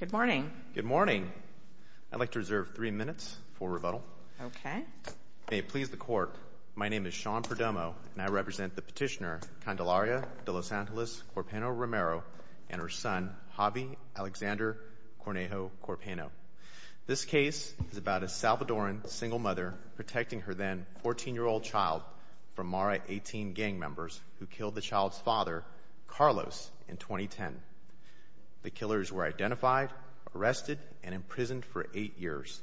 Good morning. Good morning. I'd like to reserve three minutes for rebuttal. Okay. May it please the court, my name is Sean Perdomo, and I represent the petitioner, Candelaria de Los Angeles Corpeno Romero, and her son, Javi Alexander Cornejo Corpeno. This case is about a Salvadoran single mother protecting her then 14-year-old child from MARA 18 gang members who killed the child's father, Carlos, in 2010. The killers were identified, arrested, and imprisoned for eight years.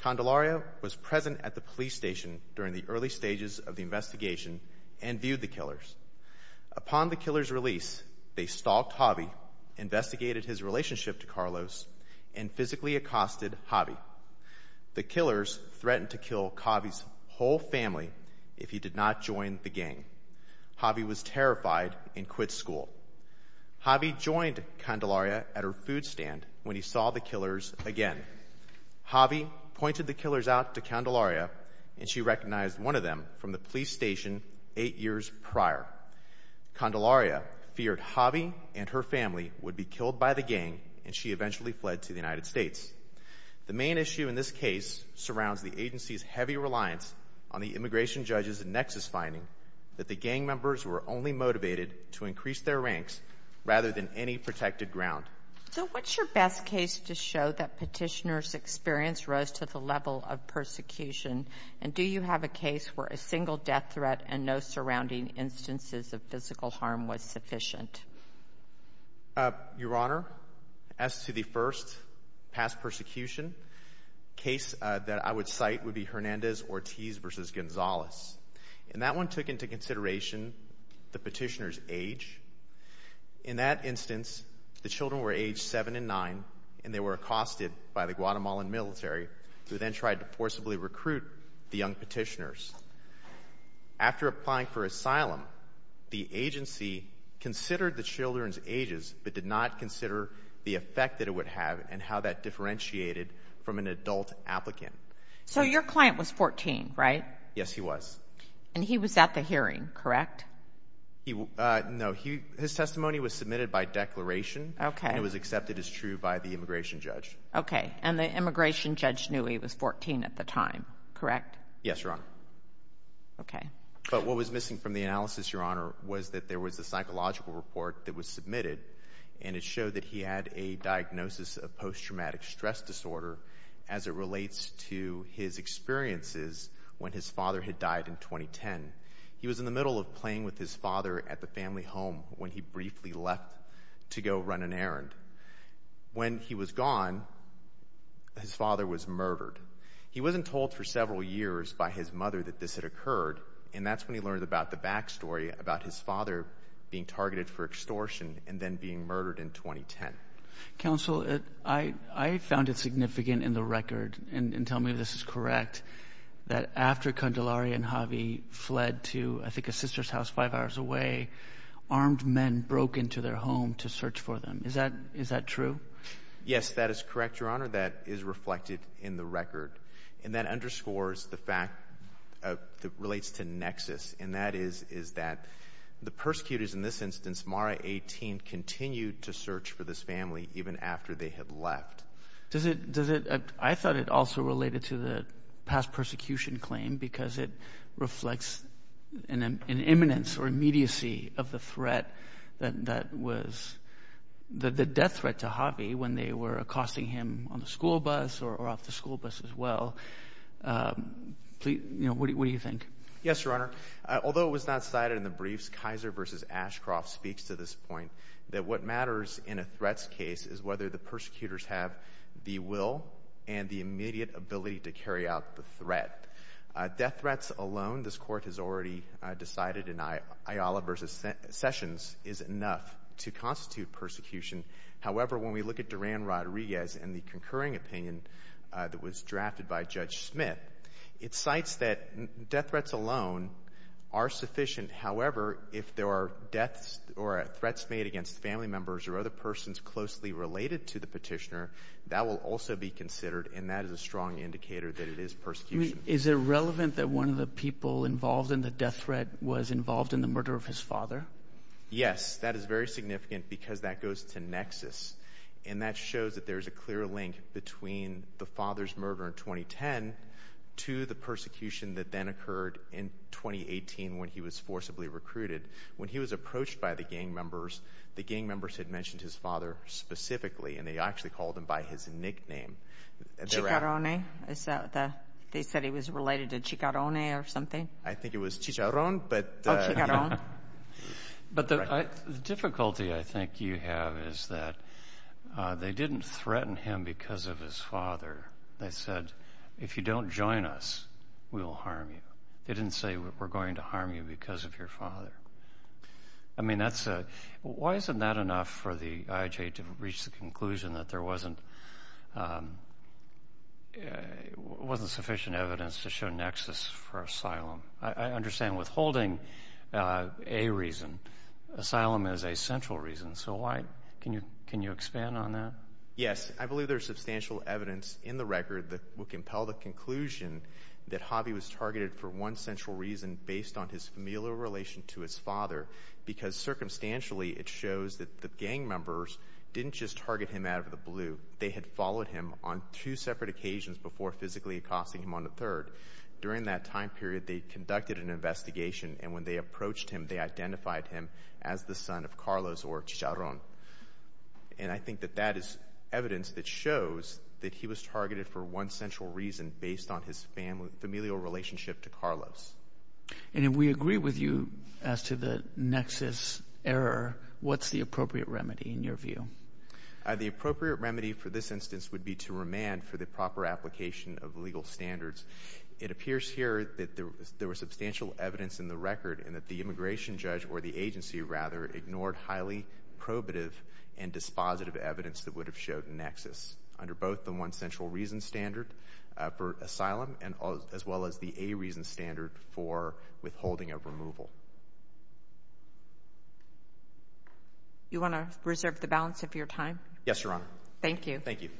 Candelaria was present at the police station during the early stages of the investigation and viewed the killers. Upon the killers' release, they stalked Javi, investigated his relationship to Carlos, and physically accosted Javi. The killers threatened to kill Javi's whole family if he did not join the gang. Javi was terrified and quit school. Javi joined Candelaria at her food stand when he saw the killers again. Javi pointed the killers out to Candelaria, and she recognized one of them from the police station eight years prior. Candelaria feared Javi and her family would be killed by the gang, and she eventually fled to the United States. The main issue in this case surrounds the agency's heavy reliance on the immigration judges' nexus finding that the gang members were only motivated to increase their ranks rather than any protected ground. So what's your best case to show that petitioner's experience rose to the level of persecution, and do you have a case where a single death threat and no surrounding instances of physical harm was sufficient? Your Honor, as to the first past persecution case that I would cite would be Hernandez-Ortiz v. Gonzalez, and that one took into consideration the petitioner's age. In that instance, the children were aged seven and nine, and they were accosted by the Guatemalan military, who then tried to forcibly recruit the young petitioners. After applying for asylum, the agency considered the children's ages but did not consider the effect that it would have and how that differentiated from an adult applicant. So your client was 14, right? Yes, he was. And he was at the hearing, correct? No, his testimony was submitted by declaration and it was accepted as true by the immigration judge. Okay, and the immigration judge knew he was 14 at the time, correct? Yes, Your Honor. Okay. But what was missing from the analysis, Your Honor, was that there was a psychological report that was submitted, and it showed that he had a diagnosis of post-traumatic stress disorder as it relates to his experiences when his father had died in 2010. He was in the middle of playing with his father at the family home when he briefly left to go run an errand. When he was gone, his father was murdered. He wasn't told for several years by his mother that this had occurred, and that's when he learned about the backstory about his father being targeted for extortion and then being murdered in 2010. Counsel, I found it significant in the record, and tell me if this is correct, that after Candelaria and Javi fled to, I think, a sister's house five hours away, armed men broke into their home to search for them. Is that true? Yes, that is correct, Your Honor. That is reflected in the record, and that underscores the fact that it relates to nexus, and that is that the persecutors in this instance, Mara 18, continued to search for this family even after they had left. Does it – I thought it also related to the past persecution claim because it reflects an imminence or immediacy of the threat that was – the death threat to Javi when they were accosting him on the school bus or off the school bus as well. What do you think? Yes, Your Honor. Although it was not cited in the briefs, Kaiser v. Ashcroft speaks to this point that what matters in a threats case is whether the persecutors have the will and the immediate ability to carry out the threat. Death threats alone, this Court has already decided in Ayala v. Sessions, is enough to constitute persecution. However, when we look at Duran Rodriguez and the concurring opinion that was drafted by Judge Smith, it cites that death threats alone are sufficient. However, if there are deaths or threats made against family members or other persons closely related to the petitioner, that will also be considered, and that is a strong indicator that it is persecution. Is it relevant that one of the people involved in the death threat was involved in the murder of his father? Yes. That is very significant because that goes to nexus, and that shows that there is a clear link between the father's murder in 2010 to the persecution that then occurred in 2018 when he was forcibly recruited. When he was approached by the gang members, the gang members had mentioned his father specifically, and they actually called him by his nickname. Chicarrone? Is that the – they said he was related to Chicarrone or something? I think it was Chicarron, but – But the difficulty I think you have is that they didn't threaten him because of his father. They said, if you don't join us, we will harm you. They didn't say, we're going to harm you because of your father. I mean, that's a – why isn't that enough for the IHA to reach the conclusion that there wasn't sufficient evidence to show nexus for asylum? I understand withholding a reason. Asylum is a central reason. So why – can you expand on that? Yes. I believe there is substantial evidence in the record that will compel the conclusion that Javi was targeted for one central reason based on his familial relation to his father because circumstantially it shows that the gang members didn't just target him out of the blue. They had followed him on two separate occasions before physically accosting him on the third. During that time period, they conducted an investigation, and when they approached him, they identified him as the son of Carlos or Chicarron. And I think that that is evidence that shows that he was targeted for one central reason based on his familial relationship to Carlos. And if we agree with you as to the nexus error, what's the appropriate remedy in your view? The appropriate remedy for this instance would be to remand for the proper application of legal standards. It appears here that there was substantial evidence in the record and that the immigration judge or the agency, rather, ignored highly probative and dispositive evidence that would have showed nexus under both the one central reason standard for asylum as well as the A reason standard for withholding of removal. You want to reserve the balance of your time? Yes, Your Honor. Thank you. Thank you.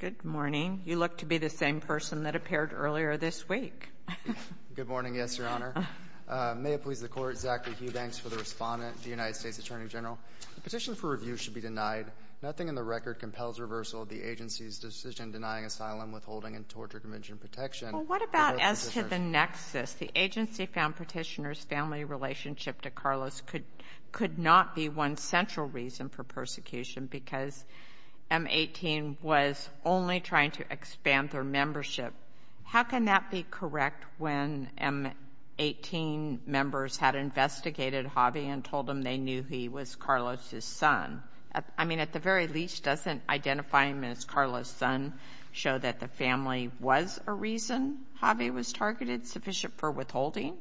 Good morning. You look to be the same person that appeared earlier this week. Good morning, yes, Your Honor. May it please the Court, Zachary Hughbanks for the respondent, the United States Attorney General. The petition for review should be denied. Nothing in the record compels reversal of the agency's decision denying asylum, withholding, and torture convention protection. Well, what about as to the nexus? The agency found petitioner's family relationship to Carlos could not be one central reason for persecution because M-18 was only trying to expand their membership. How can that be correct when M-18 members had investigated Javi and told him they knew he was Carlos' son? I mean, at the very least, doesn't identifying Ms. Carlos' son show that the family was a reason Javi was targeted, sufficient for withholding?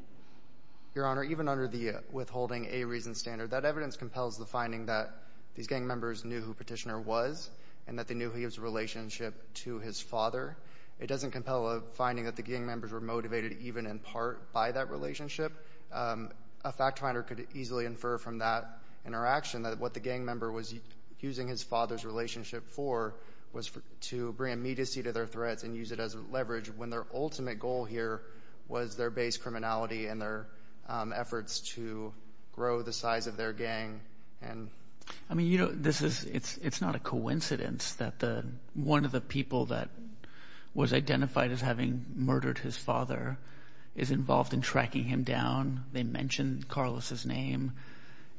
Your Honor, even under the withholding A reason standard, that evidence compels the finding that these gang members knew who Petitioner was and that they knew he was in a relationship to his father. It doesn't compel a finding that the gang members were motivated even in part by that relationship. A fact finder could easily infer from that interaction that what the gang member was using his father's relationship for was to bring immediacy to their threats and use it as leverage when their ultimate goal here was their base criminality and their efforts to grow the size of their gang. I mean, you know, it's not a coincidence that one of the people that was identified as having murdered his father is involved in tracking him down. They mentioned Carlos' name.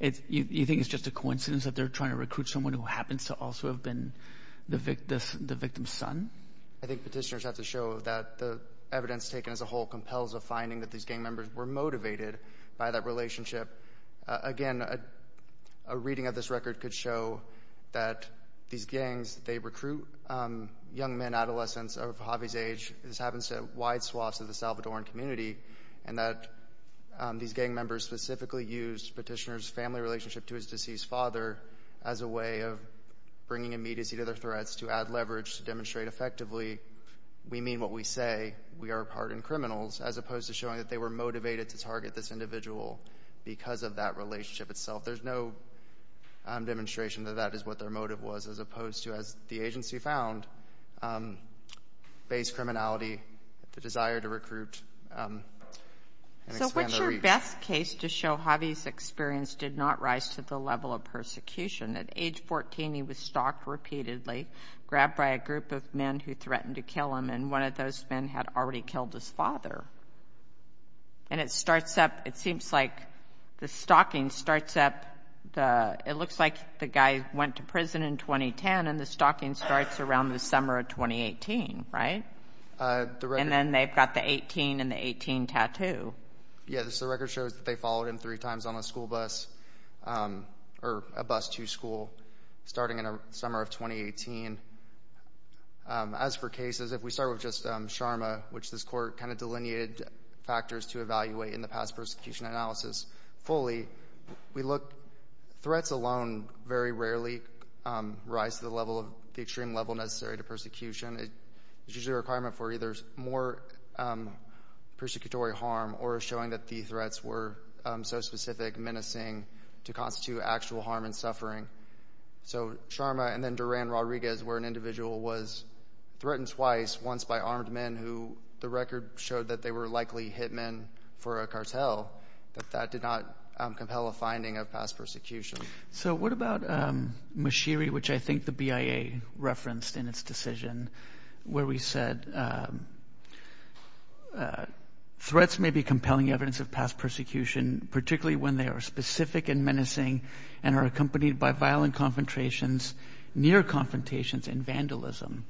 You think it's just a coincidence that they're trying to recruit someone who happens to also have been the victim's son? I think Petitioners have to show that the evidence taken as a whole compels a finding that these gang members were motivated by that relationship. Again, a reading of this record could show that these gangs, they recruit young men, adolescents of Javi's age. This happens to wide swaths of the Salvadoran community, and that these gang members specifically used Petitioners' family relationship to his deceased father as a way of bringing immediacy to their threats to add leverage to demonstrate effectively we mean what we say, we are pardoned criminals, as opposed to showing that they were motivated to target this individual because of that relationship itself. There's no demonstration that that is what their motive was, as opposed to, as the agency found, base criminality, the desire to recruit and expand their reach. So what's your best case to show Javi's experience did not rise to the level of persecution? At age 14, he was stalked repeatedly, grabbed by a group of men who threatened to kill him, and one of those men had already killed his father. And it starts up, it seems like the stalking starts up, it looks like the guy went to prison in 2010, and the stalking starts around the summer of 2018, right? And then they've got the 18 and the 18 tattoo. Yes, the record shows that they followed him three times on a school bus, or a bus to school, starting in the summer of 2018. As for cases, if we start with just Sharma, which this court kind of delineated factors to evaluate in the past persecution analysis fully, we look, threats alone very rarely rise to the extreme level necessary to persecution. It's usually a requirement for either more persecutory harm or showing that the threats were so specific, menacing, to constitute actual harm and suffering. So Sharma and then Duran Rodriguez were an individual was threatened twice, once by armed men who the record showed that they were likely hit men for a cartel, but that did not compel a finding of past persecution. So what about Mashiri, which I think the BIA referenced in its decision, where we said threats may be compelling evidence of past persecution, particularly when they are specific and menacing and are accompanied by violent confrontations, near confrontations, and vandalism.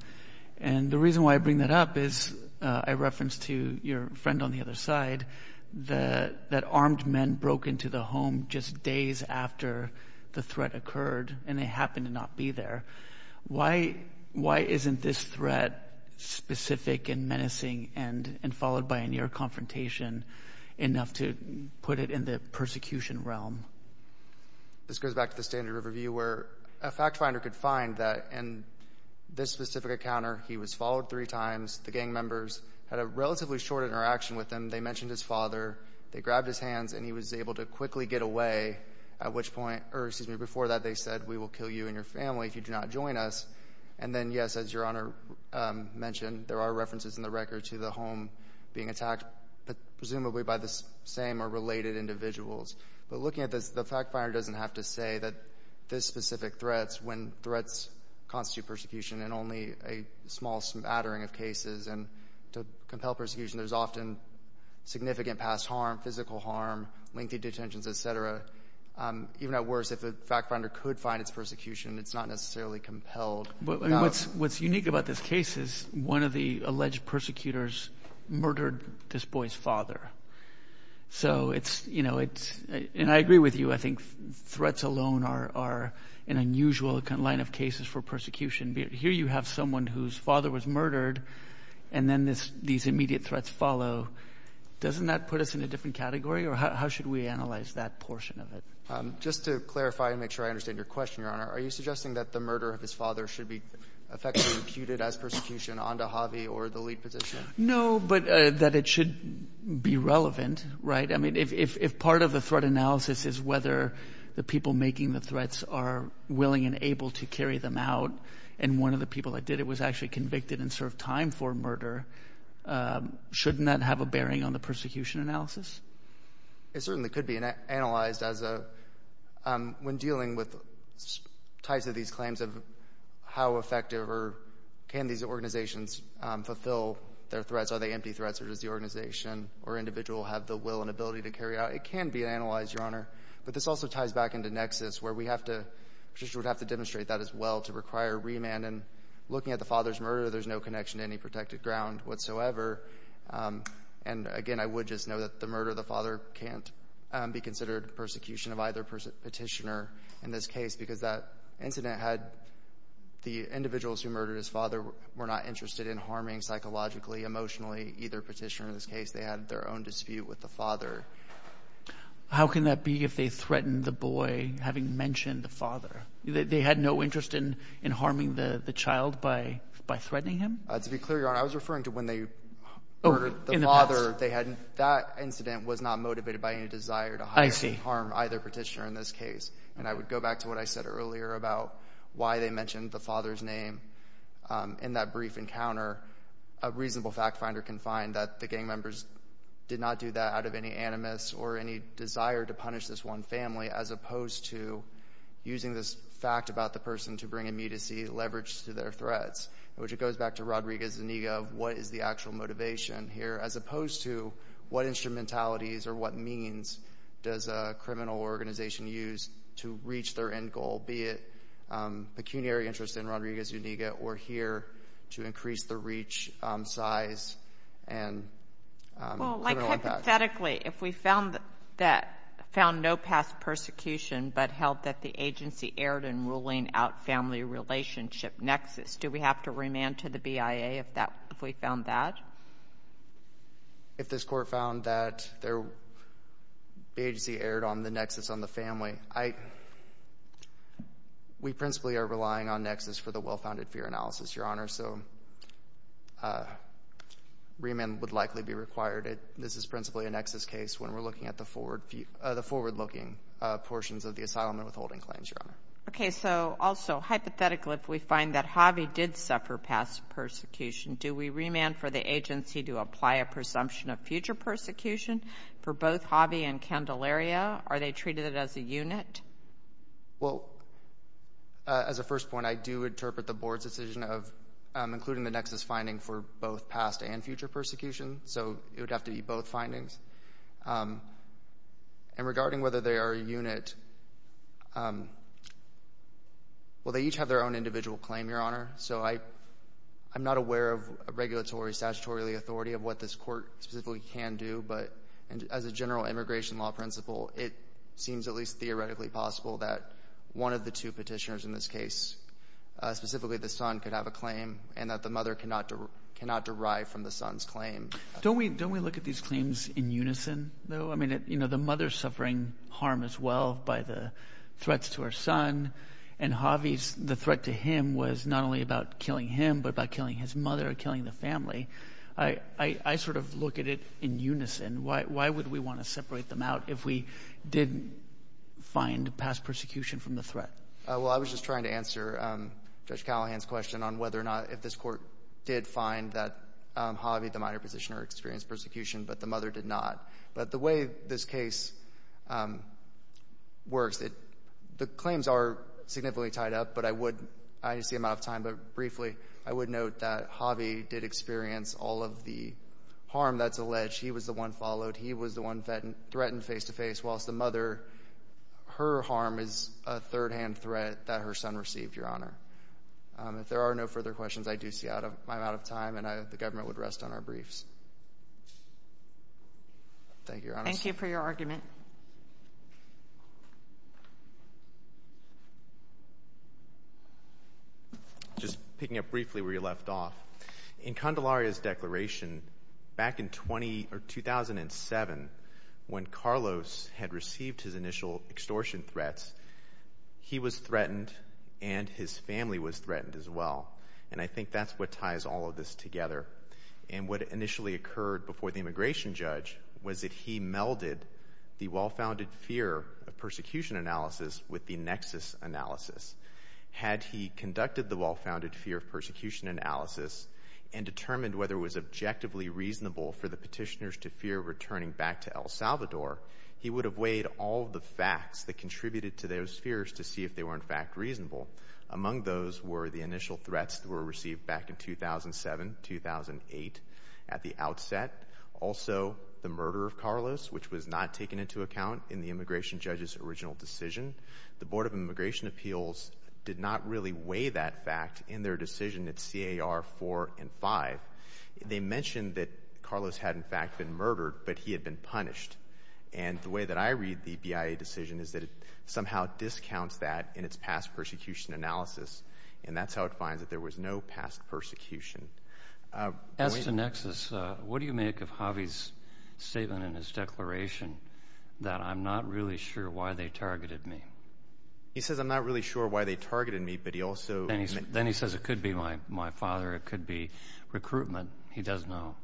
And the reason why I bring that up is I referenced to your friend on the other side that armed men broke into the home just days after the threat occurred, and they happened to not be there. Why isn't this threat specific and menacing and followed by a near confrontation enough to put it in the persecution realm? This goes back to the standard review where a fact finder could find that in this specific encounter he was followed three times. The gang members had a relatively short interaction with him. They mentioned his father. They grabbed his hands, and he was able to quickly get away, at which point, or excuse me, before that they said, we will kill you and your family if you do not join us. And then, yes, as Your Honor mentioned, there are references in the record to the home being attacked, presumably by the same or related individuals. But looking at this, the fact finder doesn't have to say that this specific threat when threats constitute persecution in only a small smattering of cases. And to compel persecution, there's often significant past harm, physical harm, lengthy detentions, et cetera. Even at worst, if the fact finder could find its persecution, it's not necessarily compelled. What's unique about this case is one of the alleged persecutors murdered this boy's father. And I agree with you. I think threats alone are an unusual line of cases for persecution. Here you have someone whose father was murdered, and then these immediate threats follow. Doesn't that put us in a different category, or how should we analyze that portion of it? Just to clarify and make sure I understand your question, Your Honor, are you suggesting that the murder of his father should be effectively imputed as persecution onto Havi or the lead petitioner? No, but that it should be relevant, right? I mean, if part of the threat analysis is whether the people making the threats are willing and able to carry them out, and one of the people that did it was actually convicted and served time for murder, shouldn't that have a bearing on the persecution analysis? It certainly could be analyzed when dealing with types of these claims of how effective or can these organizations fulfill their threats. Are they empty threats, or does the organization or individual have the will and ability to carry it out? It can be analyzed, Your Honor. But this also ties back into nexus, where we would have to demonstrate that as well to require remand. And looking at the father's murder, there's no connection to any protected ground whatsoever. And again, I would just note that the murder of the father can't be considered persecution of either petitioner in this case, because that incident had the individuals who murdered his father were not interested in harming psychologically, emotionally, either petitioner in this case. They had their own dispute with the father. How can that be if they threatened the boy, having mentioned the father? They had no interest in harming the child by threatening him? To be clear, Your Honor, I was referring to when they murdered the father. That incident was not motivated by any desire to harm either petitioner in this case. And I would go back to what I said earlier about why they mentioned the father's name. In that brief encounter, a reasonable fact finder can find that the gang members did not do that out of any animus or any desire to punish this one family as opposed to using this fact about the person to bring immediacy leverage to their threats, which it goes back to Rodriguez-Zuniga of what is the actual motivation here as opposed to what instrumentalities or what means does a criminal organization use to reach their end goal, be it pecuniary interest in Rodriguez-Zuniga or here to increase the reach size and criminal impact. Well, like hypothetically, if we found no past persecution but held that the agency erred in ruling out family relationship nexus, do we have to remand to the BIA if we found that? If this court found that the agency erred on the nexus on the family, we principally are relying on nexus for the well-founded fear analysis, Your Honor, so remand would likely be required. This is principally a nexus case when we're looking at the forward-looking portions of the asylum and withholding claims, Your Honor. Okay, so also hypothetically, if we find that Javi did suffer past persecution, do we remand for the agency to apply a presumption of future persecution for both Javi and Candelaria? Are they treated as a unit? Well, as a first point, I do interpret the Board's decision of including the nexus finding for both past and future persecution, so it would have to be both findings. And regarding whether they are a unit, well, they each have their own individual claim, Your Honor, so I'm not aware of regulatory, statutory authority of what this court specifically can do, but as a general immigration law principle, it seems at least theoretically possible that one of the two petitioners in this case, specifically the son, could have a claim and that the mother cannot derive from the son's claim. Don't we look at these claims in unison, though? I mean, you know, the mother's suffering harm as well by the threats to her son, and Javi's, the threat to him was not only about killing him but about killing his mother or killing the family. I sort of look at it in unison. Why would we want to separate them out if we didn't find past persecution from the threat? Well, I was just trying to answer Judge Callahan's question on whether or not if this court did find that Javi, the minor petitioner, experienced persecution, but the mother did not. But the way this case works, the claims are significantly tied up, but I would – I see I'm out of time, but briefly I would note that Javi did experience all of the harm that's alleged. He was the one followed. He was the one threatened face-to-face, whilst the mother, her harm is a third-hand threat that her son received, Your Honor. If there are no further questions, I do see I'm out of time, and the government would rest on our briefs. Thank you, Your Honor. Thank you for your argument. Just picking up briefly where you left off, in Candelaria's declaration back in 2007, when Carlos had received his initial extortion threats, he was threatened and his family was threatened as well. And I think that's what ties all of this together. And what initially occurred before the immigration judge was that he melded the well-founded fear of persecution analysis with the nexus analysis. Had he conducted the well-founded fear of persecution analysis and determined whether it was objectively reasonable for the petitioners to fear returning back to El Salvador, he would have weighed all of the facts that contributed to those that were reasonable. Among those were the initial threats that were received back in 2007, 2008 at the outset, also the murder of Carlos, which was not taken into account in the immigration judge's original decision. The Board of Immigration Appeals did not really weigh that fact in their decision at CAR 4 and 5. They mentioned that Carlos had, in fact, been murdered, but he had been punished. And the way that I read the BIA decision is that it somehow discounts that in its past persecution analysis. And that's how it finds that there was no past persecution. As to nexus, what do you make of Javi's statement in his declaration that, I'm not really sure why they targeted me? He says, I'm not really sure why they targeted me, but he also— Then he says it could be my father, it could be recruitment. He does know.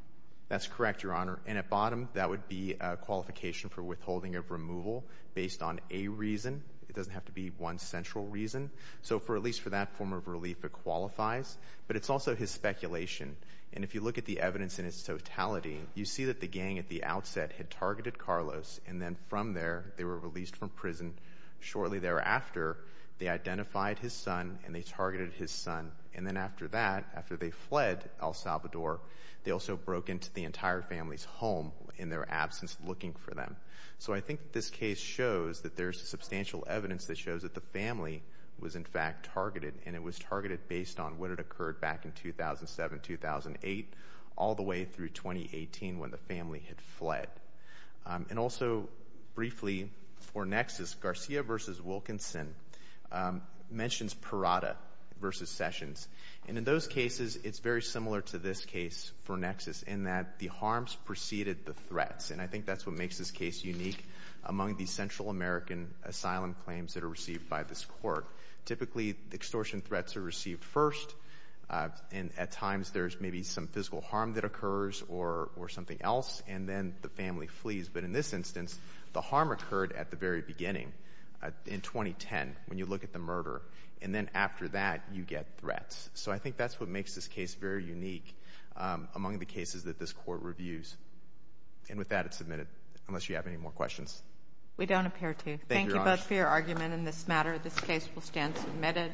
That's correct, Your Honor. And at bottom, that would be a qualification for withholding of removal based on a reason. It doesn't have to be one central reason. So at least for that form of relief, it qualifies. But it's also his speculation. And if you look at the evidence in its totality, you see that the gang at the outset had targeted Carlos, and then from there, they were released from prison. Shortly thereafter, they identified his son and they targeted his son. And then after that, after they fled El Salvador, they also broke into the entire family's home in their absence looking for them. So I think this case shows that there's substantial evidence that shows that the family was in fact targeted, and it was targeted based on what had occurred back in 2007-2008 all the way through 2018 when the family had fled. And also, briefly, for nexus, Garcia v. Wilkinson mentions Parada v. Sessions. And in those cases, it's very similar to this case for nexus in that the harms preceded the threats. And I think that's what makes this case unique among the Central American asylum claims that are received by this court. Typically, extortion threats are received first, and at times there's maybe some physical harm that occurs or something else, and then the family flees. But in this instance, the harm occurred at the very beginning in 2010 when you look at the murder. And then after that, you get threats. So I think that's what makes this case very unique among the cases that this court reviews. And with that, it's submitted, unless you have any more questions. We don't appear to. Thank you both for your argument in this matter. This case will stand submitted.